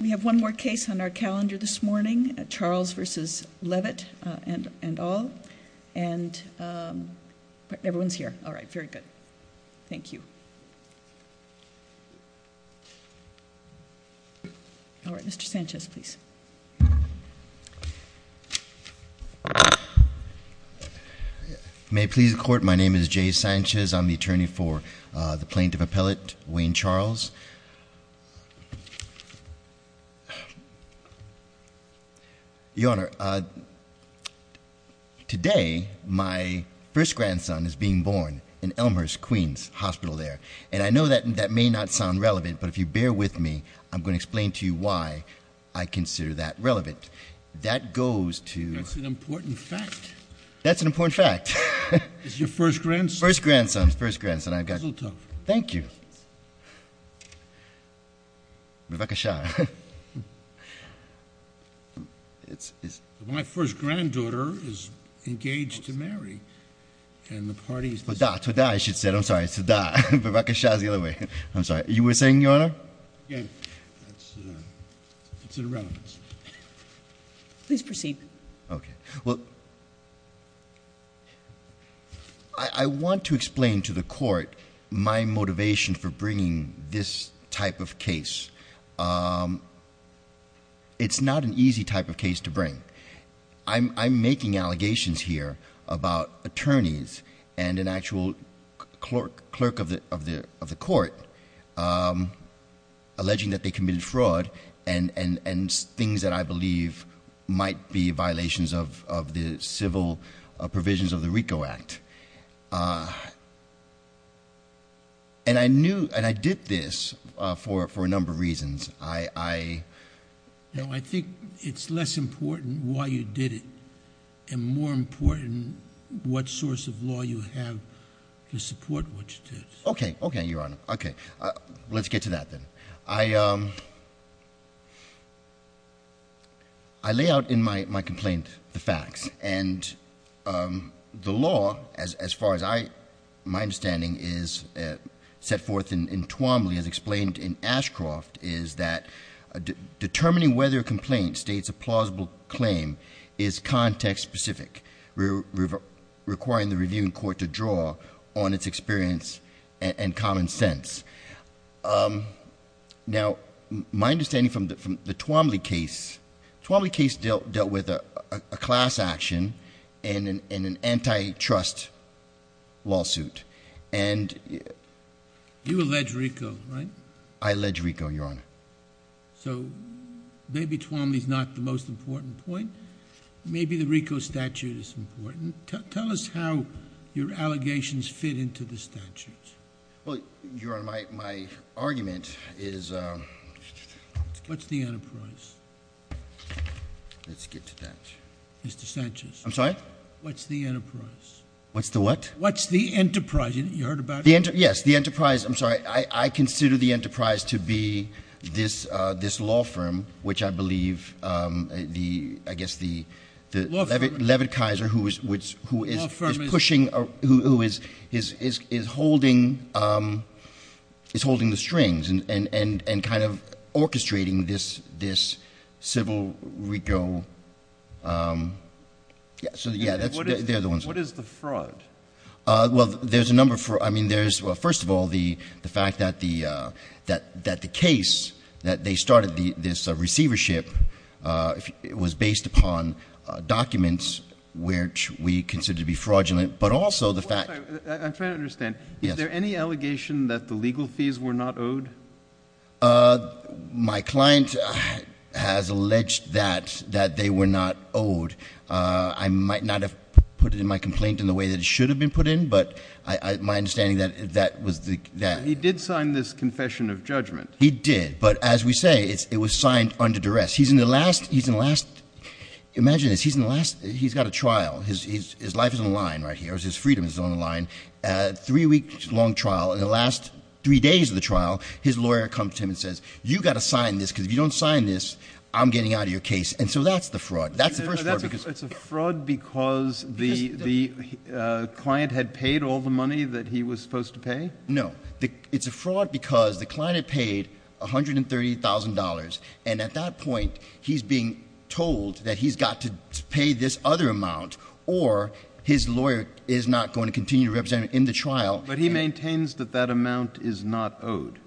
We have one more case on our calendar this morning, Charles v. Levitt and all, and everyone's here. All right, very good. Thank you. All right, Mr. Sanchez, please. May it please the Court, my name is Jay Sanchez, I'm the attorney for the Plaintiff Appellate Wayne Charles. Your Honor, today my first grandson is being born in Elmhurst Queens Hospital there, and I know that may not sound relevant, but if you bear with me, I'm going to explain to you why I consider that relevant. That goes to- That's an important fact. That's an important fact. It's your first grandson? First grandson. First grandson. I've got- Rebecca Shah. My first granddaughter is engaged to marry, and the party's- To-da, to-da, I should say. I'm sorry, it's to-da. Rebecca Shah's the other way. I'm sorry. You were saying, Your Honor? Yeah. It's irrelevant. Please proceed. Okay, well, I want to explain to the Court my motivation for bringing this type of case. It's not an easy type of case to bring. I'm making allegations here about attorneys and an actual clerk of the Court alleging that they committed fraud and things that I believe might be violations of the civil provisions of the RICO Act, and I did this for a number of reasons. I think it's less important why you did it and more important what source of law you have to support what you did. Okay. Okay, Your Honor. Okay. Let's get to that then. I lay out in my complaint the facts, and the law, as far as my understanding is set forth in Twombly as explained in Ashcroft, is that determining whether a complaint states a plausible claim is context-specific, requiring the Reviewing Court to draw on its experience and common sense. Now, my understanding from the Twombly case, the Twombly case dealt with a class action and an antitrust lawsuit. You allege RICO, right? I allege RICO, Your Honor. So, maybe Twombly is not the most important point. Maybe the RICO statute is important. Tell us how your allegations fit into the statutes. Well, Your Honor, my argument is... What's the enterprise? Let's get to that. Mr. Sanchez. I'm sorry? What's the enterprise? What's the what? What's the enterprise? You heard about it? Yes, the enterprise. I'm sorry. I consider the enterprise to be this law firm, which I believe, I guess, the... Law firm?... Levitt-Kaiser, who is... Law firm is...... pushing, who is holding the strings and kind of orchestrating this civil RICO... What is the fraud? Well, there's a number for... I mean, there's... Well, first of all, the fact that the case, that they started this receivership, it was based upon documents which we consider to be fraudulent, but also the fact... I'm trying to understand. Yes. Is there any allegation that the legal fees were not owed? My client has alleged that, that they were not owed. I might not have put it in my complaint in the way that it should have been put in, but my understanding that that was the... He did sign this confession of judgment. He did, but as we say, it was signed under duress. He's in the last... Imagine this. He's in the last... He's got a trial. His life is on the line right here. His freedom is on the line. Three-week-long trial. In the last three days of the trial, his lawyer comes to him and says, you've got to sign this, because if you don't sign this, I'm getting out of your case. So that's the fraud. That's the first fraud. It's a fraud because the client had paid all the money that he was supposed to pay? No. It's a fraud because the client had paid $130,000, and at that point, he's being told that he's got to pay this other amount, or his lawyer is not going to continue to represent him in the trial. But he maintains that that amount is not owed.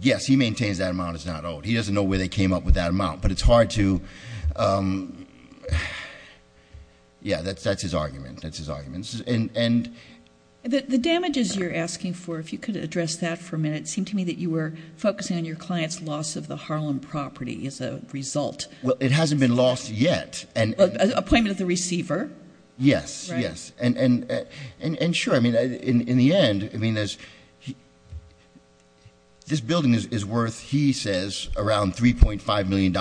Yes. He maintains that amount is not owed. He doesn't know where they came up with that amount. But it's hard to... Yeah, that's his argument. That's his argument. And... The damages you're asking for, if you could address that for a minute, it seemed to me that you were focusing on your client's loss of the Harlem property as a result. Well, it hasn't been lost yet. Appointment of the receiver? Yes. Yes. And sure, in the end, this building is worth, he says, around $3.5 million.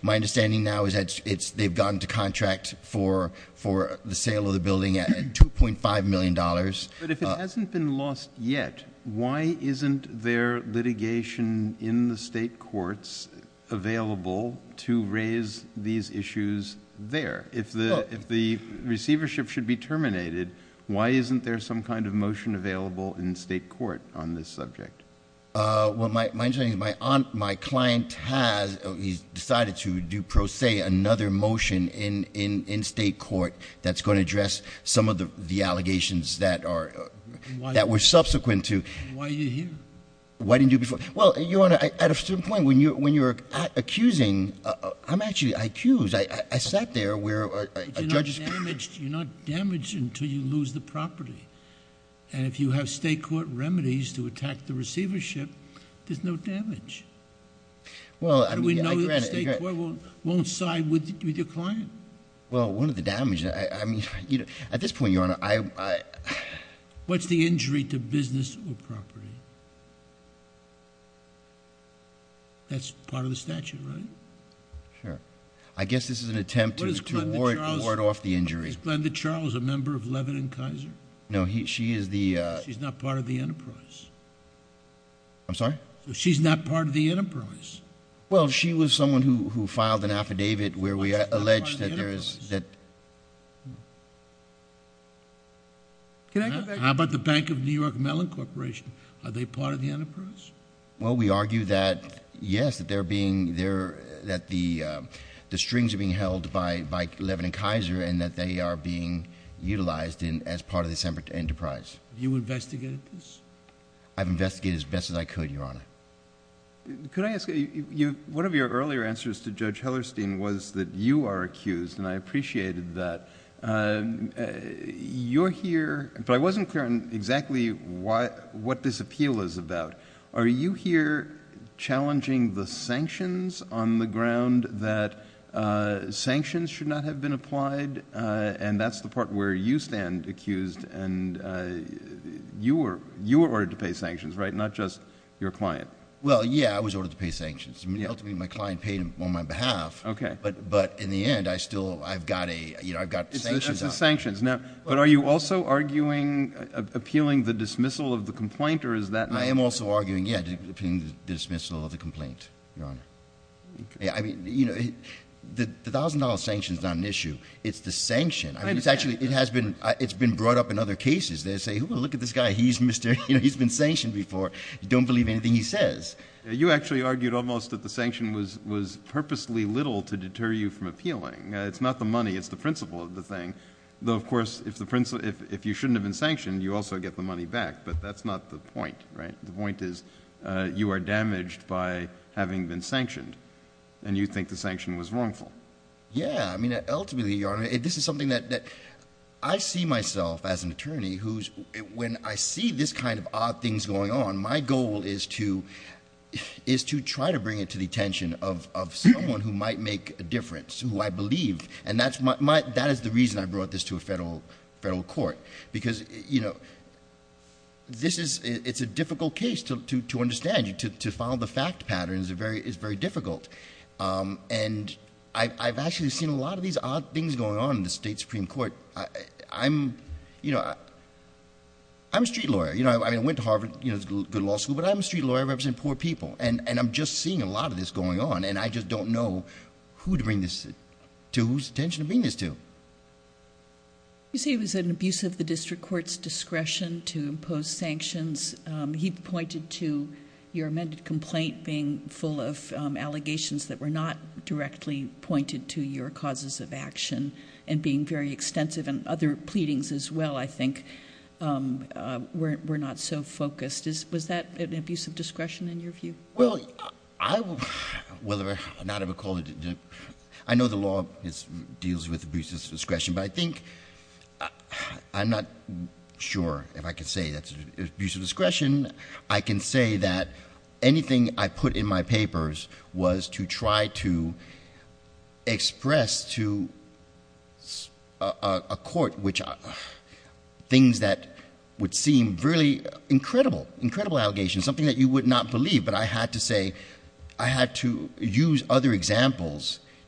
My understanding now is that they've gone to contract for the sale of the building at $2.5 million. But if it hasn't been lost yet, why isn't there litigation in the state courts available to raise these issues there? If the receivership should be terminated, why isn't there some kind of motion available in state court on this subject? Well, my understanding is my client has, he's decided to do pro se another motion in state court that's going to address some of the allegations that were subsequent to... And why are you here? Well, at a certain point, when you're accusing, I'm actually accused. I sat there where a judge... But you're not damaged until you lose the property. And if you have state court remedies to attack the receivership, there's no damage. How do we know the state court won't side with your client? Well, one of the damages... At this point, Your Honor, I... What's the injury to business or property? That's part of the statute, right? Sure. I guess this is an attempt to ward off the injury. Is Glenda Charles a member of Levin & Kaiser? No, she is the... She's not part of the enterprise. I'm sorry? She's not part of the enterprise. Well, she was someone who filed an affidavit where we alleged that there is... How about the Bank of New York Mellon Corporation? Are they part of the enterprise? Well, we argue that, yes, that the strings are being held by Levin & Kaiser and that they are being utilized as part of this enterprise. Have you investigated this? I've investigated it as best as I could, Your Honor. Could I ask... One of your earlier answers to Judge Hellerstein was that you are accused, and I appreciated that. You're here... But I wasn't clear on exactly what this appeal is about. Are you here challenging the sanctions on the ground that sanctions should not have been applied? And that's the part where you stand accused and you were ordered to pay sanctions, right? Not just your client. Well, yeah, I was ordered to pay sanctions. Ultimately, my client paid on my behalf. Okay. But in the end, I still... I've got sanctions on me. That's the sanctions. But are you also arguing appealing the dismissal of the complaint? I am also arguing, yeah, appealing the dismissal of the complaint, Your Honor. I mean, you know, the $1,000 sanction's not an issue. It's the sanction. I mean, it's actually... It's been brought up in other cases. They say, well, look at this guy. He's been sanctioned before. You don't believe anything he says. You actually argued almost that the sanction was purposely little to deter you from appealing. It's not the money. It's the principle of the thing. Though, of course, if you shouldn't have been sanctioned, you also get the money back. But that's not the point, right? The point is you are damaged by having been sanctioned, and you think the sanction was wrongful. Yeah. I mean, ultimately, Your Honor, this is something that... I see myself as an attorney who's... When I see this kind of odd things going on, my goal is to try to bring it to the attention of someone who might make a difference, who I believe. And that is the reason I brought this to a federal court, because it's a difficult case to understand. To follow the fact pattern is very difficult. And I've actually seen a lot of these odd things going on in the state Supreme Court. I'm a street lawyer. I went to Harvard. It's a good law school. But I'm a street lawyer. I represent poor people. And I'm just seeing a lot of this going on, and I just don't know who to bring this to, whose attention to bring this to. You say it was an abuse of the district court's discretion to impose sanctions. He pointed to your amended complaint being full of allegations that were not directly pointed to your causes of action and being very extensive. And other pleadings, as well, I think, were not so focused. Was that an abuse of discretion, in your view? Well, I will not have a call to... I know the law deals with abuse of discretion, but I think... I'm not sure if I can say that's an abuse of discretion. I can say that anything I put in my papers was to try to express to a court things that would seem really incredible, incredible allegations, something that you would not believe. But I had to say,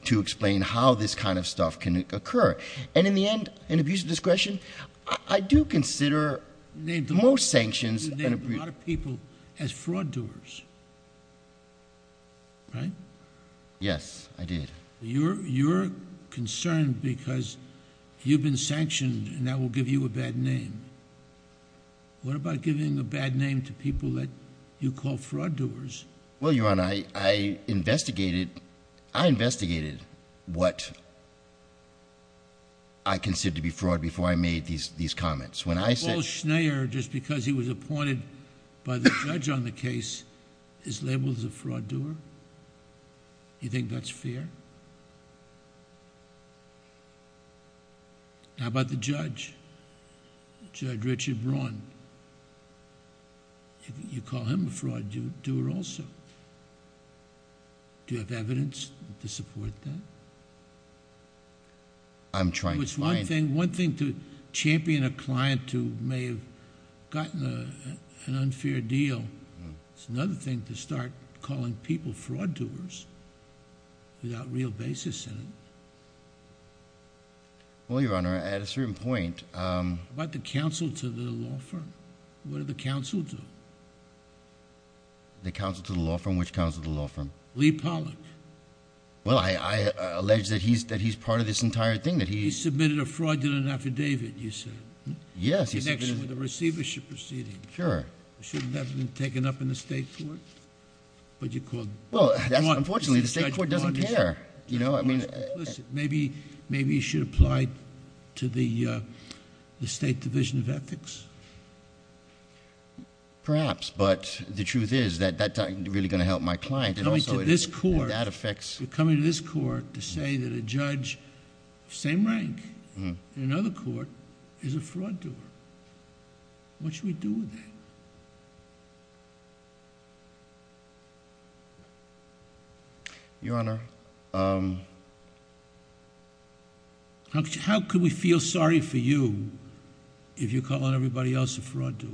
to explain how this kind of stuff can occur. And in the end, an abuse of discretion, I do consider most sanctions... You named a lot of people as fraud doers, right? Yes, I did. You're concerned because you've been sanctioned and that will give you a bad name. What about giving a bad name to people that you call fraud doers? Well, Your Honor, I investigated. I investigated what I consider to be fraud before I made these comments. When I said... Paul Schneier, just because he was appointed by the judge on the case, is labeled as a fraud doer? You think that's fair? How about the judge, Judge Richard Braun? You call him a fraud doer also. Do you have evidence to support that? I'm trying to find... One thing to champion a client who may have gotten an unfair deal, it's another thing to start calling people fraud doers without real basis in it. Well, Your Honor, at a certain point... What about the counsel to the law firm? What do the counsel do? The counsel to the law firm? Which counsel to the law firm? Lee Pollock. Well, I allege that he's part of this entire thing. He submitted a fraudulent affidavit, you said. Yes. In connection with the receivership proceeding. Sure. Shouldn't that have been taken up in the state court? But you called... Maybe you should apply to the State Division of Ethics. Perhaps, but the truth is that that's really going to help my client. Coming to this court... That affects... You're coming to this court to say that a judge of the same rank in another court is a fraud doer. What should we do with that? Your Honor... How could we feel sorry for you if you're calling everybody else a fraud doer?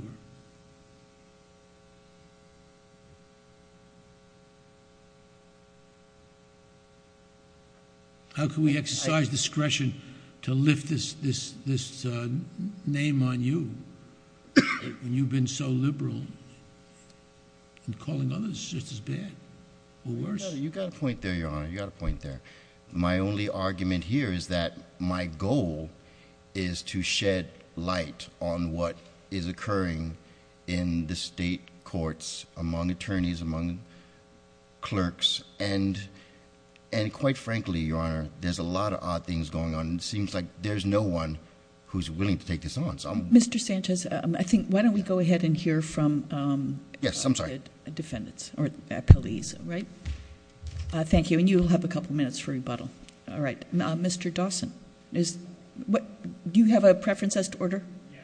How can we exercise discretion to lift this name on you when you've been so liberal in calling others just as bad or worse? You got a point there, Your Honor. You got a point there. My only argument here is that my goal is to shed light on what is occurring in the state courts among attorneys, among clerks, and quite frankly, Your Honor, there's a lot of odd things going on. It seems like there's no one who's willing to take this on. Mr. Sanchez, I think... Why don't we go ahead and hear from... Yes, I'm sorry. Defendants, or police, right? Thank you, and you'll have a couple minutes for rebuttal. All right. Mr. Dawson, do you have a preference as to order? Yes.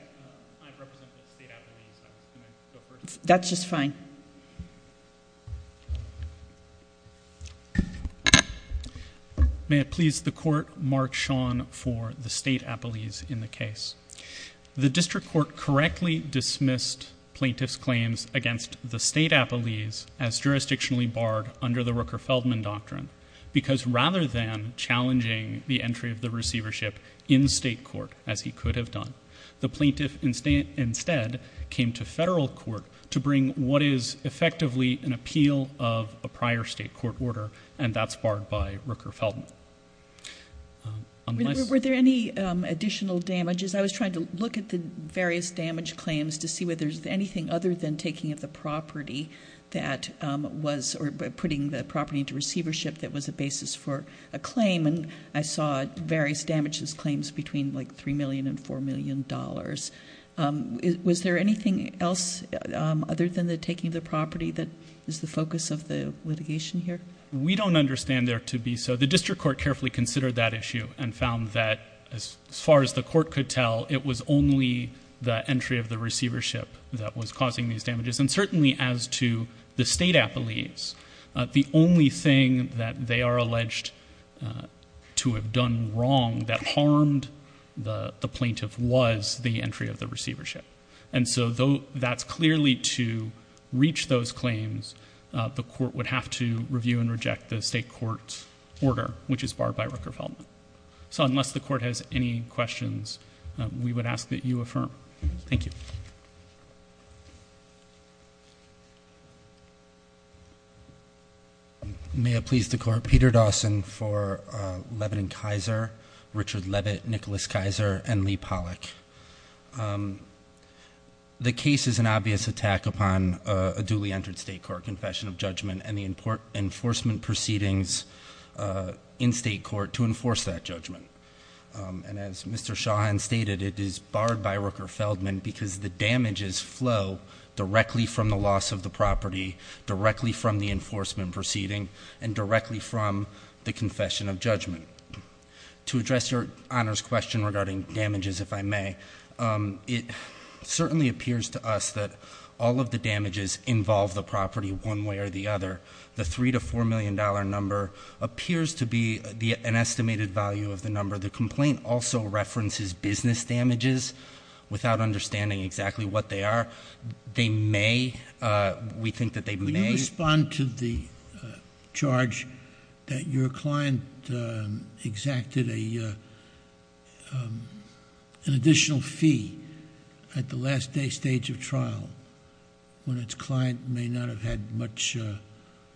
I represent the State Appellees. I was going to go first. That's just fine. May it please the Court, Mark Sean for the State Appellees in the case. The District Court correctly dismissed plaintiff's claims against the State Appellees as jurisdictionally barred under the Rooker-Feldman Doctrine because rather than challenging the entry of the receivership in state court, as he could have done, the plaintiff instead came to federal court to bring what is effectively an appeal of a prior state court order, and that's barred by Rooker-Feldman. Were there any additional damages? I was trying to look at the various damage claims to see whether there's anything other than taking of the property that was... that was a basis for a claim, and I saw various damages claims between like $3 million and $4 million. Was there anything else other than the taking of the property that is the focus of the litigation here? We don't understand there to be so. The District Court carefully considered that issue and found that as far as the court could tell, it was only the entry of the receivership that was causing these damages. And certainly as to the State Appellees, the only thing that they are alleged to have done wrong that harmed the plaintiff was the entry of the receivership. And so though that's clearly to reach those claims, the court would have to review and reject the state court's order, which is barred by Rooker-Feldman. So unless the court has any questions, we would ask that you affirm. Thank you. May it please the court. Peter Dawson for Leavitt & Kizer, Richard Leavitt, Nicholas Kizer, and Lee Pollack. The case is an obvious attack upon a duly entered state court confession of judgment and the enforcement proceedings in state court to enforce that judgment. And as Mr. Shahan stated, it is barred by Rooker-Feldman because the damages flow directly from the loss of the property, directly from the enforcement proceeding, and directly from the confession of judgment. To address Your Honor's question regarding damages, if I may, it certainly appears to us that all of the damages involve the property one way or the other. The $3 to $4 million number appears to be an estimated value of the number. The complaint also references business damages without understanding exactly what they are. They may... We think that they may... Would you respond to the charge that your client exacted a... an additional fee at the last day stage of trial when its client may not have had much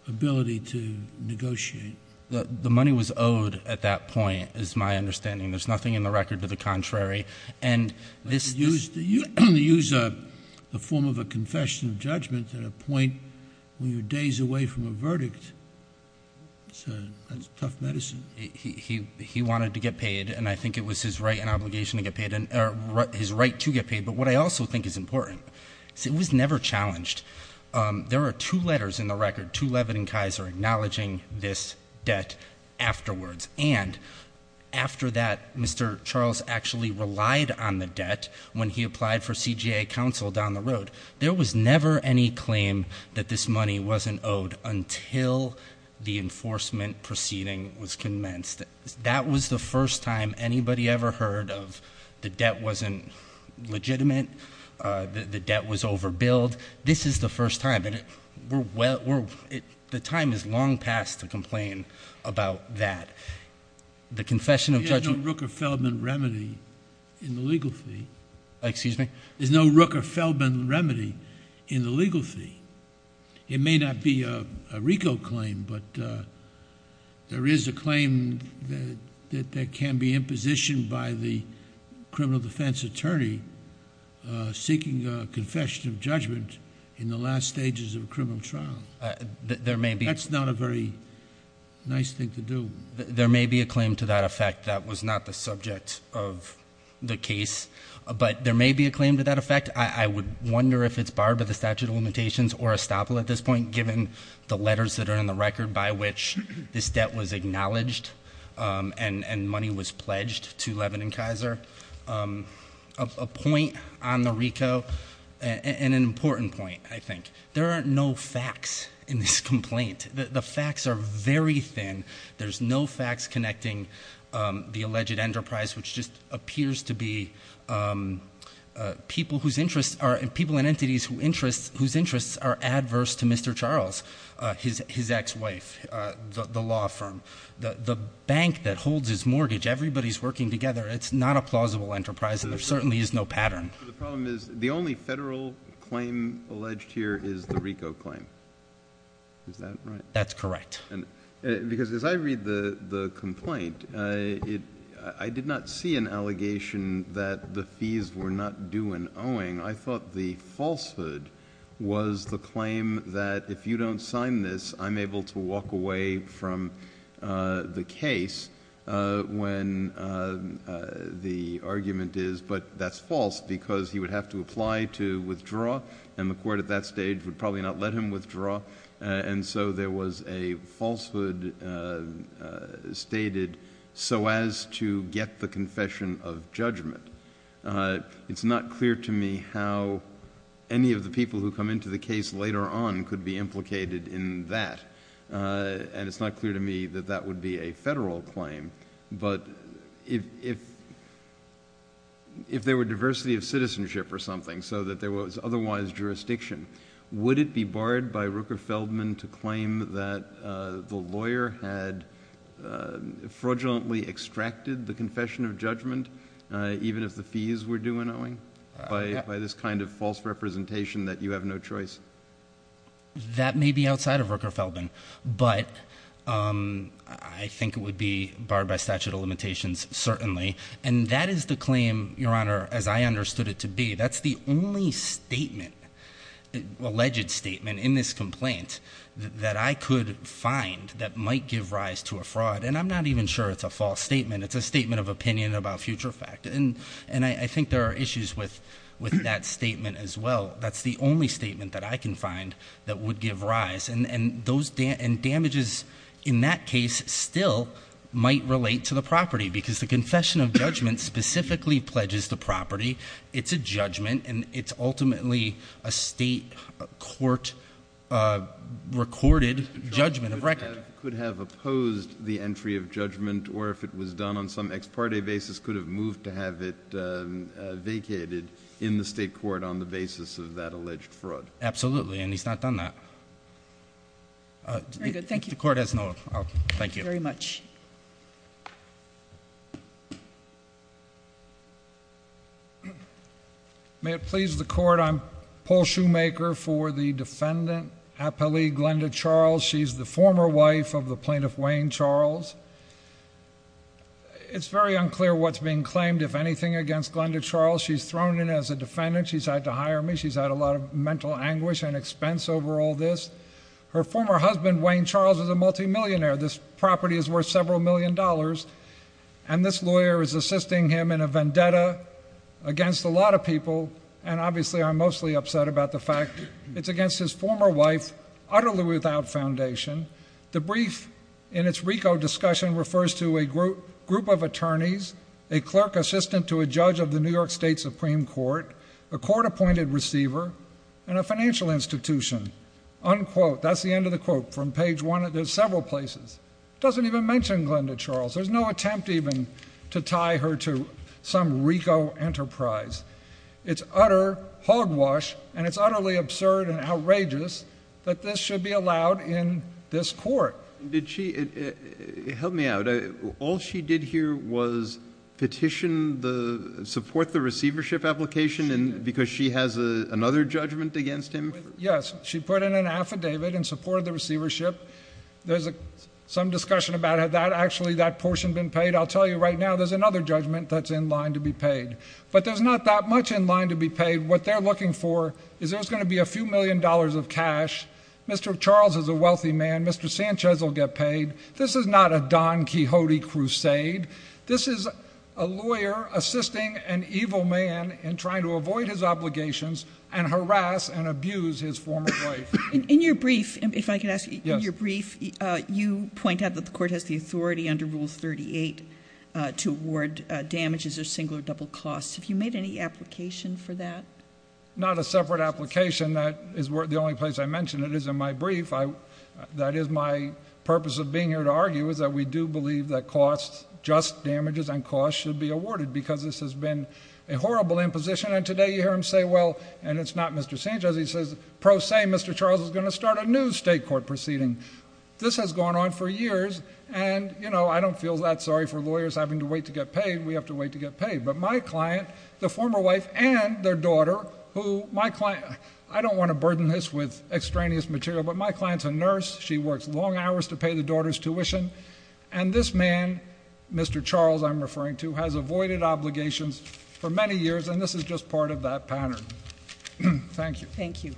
ability to negotiate? The money was owed at that point is my understanding. There's nothing in the record to the contrary. And this... You use a form of a confession of judgment at a point when you're days away from a verdict. That's tough medicine. He wanted to get paid, and I think it was his right and obligation to get paid, his right to get paid. But what I also think is important is it was never challenged. There are two letters in the record, to Leavitt and Kaiser, acknowledging this debt afterwards. And after that, Mr. Charles actually relied on the debt when he applied for CJA counsel down the road. There was never any claim that this money wasn't owed until the enforcement proceeding was commenced. That was the first time anybody ever heard of the debt wasn't legitimate, the debt was overbilled. This is the first time. The time is long past to complain about that. The confession of judgment... There's no Rooker-Feldman remedy in the legal fee. There's no Rooker-Feldman remedy in the legal fee. It may not be a RICO claim, but there is a claim that can be impositioned by the criminal defense attorney seeking a confession of judgment in the last stages of a criminal trial. That's not a very nice thing to do. There may be a claim to that effect that was not the subject of the case, but there may be a claim to that effect. I would wonder if it's barred by the statute of limitations or estoppel at this point, given the letters that are in the record by which this debt was acknowledged and money was pledged to Levin and Kaiser. A point on the RICO and an important point, I think. There are no facts in this complaint. The facts are very thin. There's no facts connecting the alleged enterprise, which just appears to be people and entities whose interests are adverse to Mr. Charles, his ex-wife, the law firm. The bank that holds his mortgage, everybody's working together. It's not a plausible enterprise and there certainly is no pattern. The only federal claim alleged here is the RICO claim. Is that right? That's correct. As I read the complaint, I did not see an allegation that the fees were not due and owing. I thought the falsehood was the claim that if you don't sign this, I'm able to walk away from the case when the argument is but that's false because he would have to apply to withdraw and the court at that stage would probably not let him withdraw and so there was a falsehood stated so as to get the confession of judgment. It's not clear to me how any of the people who come into the case later on could be implicated in that and it's not clear to me that that would be a federal claim but if there were diversity of citizenship or something so that there was otherwise jurisdiction would it be barred by Rooker-Feldman to claim that the lawyer had fraudulently extracted the confession of judgment even if the fees were due and owing by this kind of false representation that you have no choice? That may be outside of Rooker-Feldman but I think it would be barred by statute of limitations certainly and that is the claim as I understood it to be that's the only statement alleged statement in this complaint that I could find that might give rise to a fraud and I'm not even sure it's a false statement it's a statement of opinion about future fact and I think there are issues with that statement as well that's the only statement that I can find that would give rise and damages in that case still might relate to the property because the confession of judgment specifically pledges the property it's a judgment and it's ultimately a state court recorded judgment of record could have opposed the entry of judgment or if it was done on some ex parte basis could have moved to have it vacated in the state court on the basis of that alleged fraud absolutely and he's not done that very good thank you the court has no, oh, thank you very much may it please the court I'm Paul Shoemaker for the defendant Happily Glenda Charles she's the former wife of the plaintiff Wayne Charles it's very unclear what's being claimed if anything against Glenda Charles she's thrown in as a defendant she's had to hire me, she's had a lot of mental anguish and expense over all this her former husband Wayne Charles is a multi-millionaire this property is worth several million dollars and this lawyer is assisting him in a vendetta against a lot of people and obviously I'm mostly upset about the fact it's against his former wife utterly without foundation the brief in its RICO discussion refers to a group of attorneys a clerk assistant to a judge of the New York State Supreme Court a court appointed receiver and a financial institution unquote, that's the end of the quote from page one, there's several places doesn't even mention Glenda Charles there's no attempt even to tie her to some RICO enterprise it's utter hogwash and it's utterly absurd and outrageous that this should be allowed in this court did she, help me out, all she did here was petition the support the receivership application because she has another judgment against him, yes she put in an affidavit in support of the receivership there's some discussion about that, actually that portion been paid, I'll tell you right now there's another judgment that's in line to be paid but there's not that much in line to be paid what they're looking for is there's going to be a few million dollars of cash Mr. Charles is a wealthy man, Mr. Sanchez will get paid, this is not a Don Quixote crusade this is a lawyer assisting an evil man in trying to avoid his obligations and harass and abuse his former wife in your brief, if I could ask you you point out that the court has the authority under rule 38 to award damages or single or double costs, have you made any application for that? not a separate application that is the only place I mention it is in my brief that is my purpose of being here to argue is that we do believe that costs, just damages and costs should be awarded because this has been a horrible imposition and today you hear him say well, and it's not Mr. Sanchez he says pro se Mr. Charles is going to start a new state court proceeding this has gone on for years and you know I don't feel that sorry for lawyers having to wait to get paid, we have to wait to get paid, but my client, the former wife and their daughter who my client, I don't want to burden this with extraneous material but my client's a nurse, she works long hours to pay the daughter's tuition and this man, Mr. Charles I'm referring to has avoided obligations for many years and this is just part of that pattern thank you thank you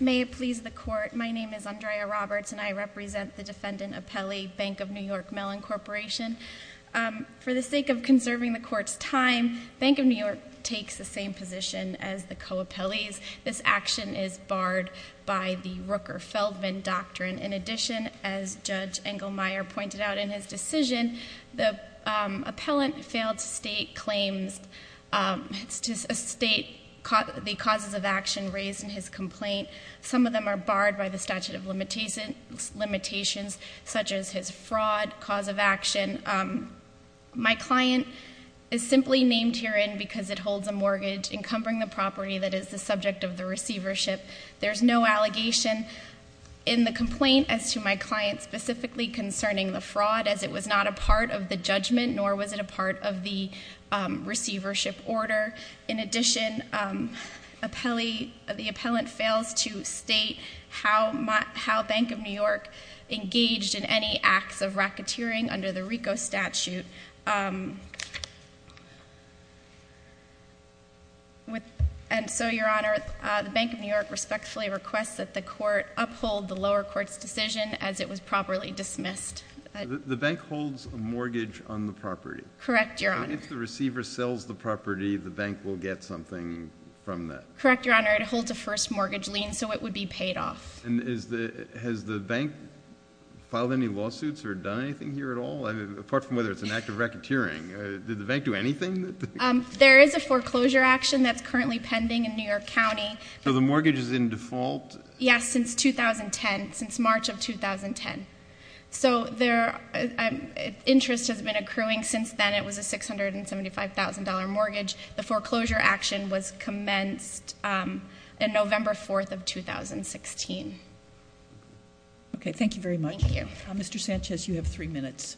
may it please the court my name is Andrea Roberts and I represent the defendant Appelli, Bank of New York Mellon Corporation for the sake of conserving the court's time Bank of New York takes the same position as the co-appellees this action is barred by the Rooker-Feldman doctrine in addition, as Judge Engelmeyer pointed out in his decision the appellant failed to state claims to state the causes of action raised in his complaint some of them are barred by the statute of limitations such as his fraud cause of action my client is simply named herein because it holds a mortgage encumbering the property that is the subject of the receivership there is no allegation in the complaint as to my client specifically concerning the fraud as it was not a part of the judgment nor was it a part of the receivership order in addition the appellant fails to state how Bank of New York engaged in any acts of racketeering under the RICO statute with and so your honor the Bank of New York respectfully requests that the court uphold the lower court's decision as it was properly dismissed the bank holds a mortgage on the property correct your honor if the receiver sells the property the bank will get something from that correct your honor it holds a first mortgage lien so it would be paid off has the bank filed any lawsuits or done anything here at all apart from whether it's an act of racketeering did the bank do anything there is a foreclosure action that's currently pending in New York County so the mortgage is in default yes since 2010 since March of 2010 so interest has been accruing since then it was a $675,000 mortgage the foreclosure action was commenced in November 4th of 2016 okay thank you very much Mr. Sanchez you have three minutes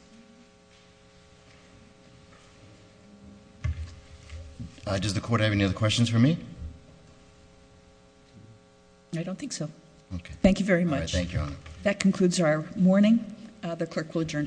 does the court have any other questions for me I don't think so thank you very much that concludes our morning the clerk will adjourn court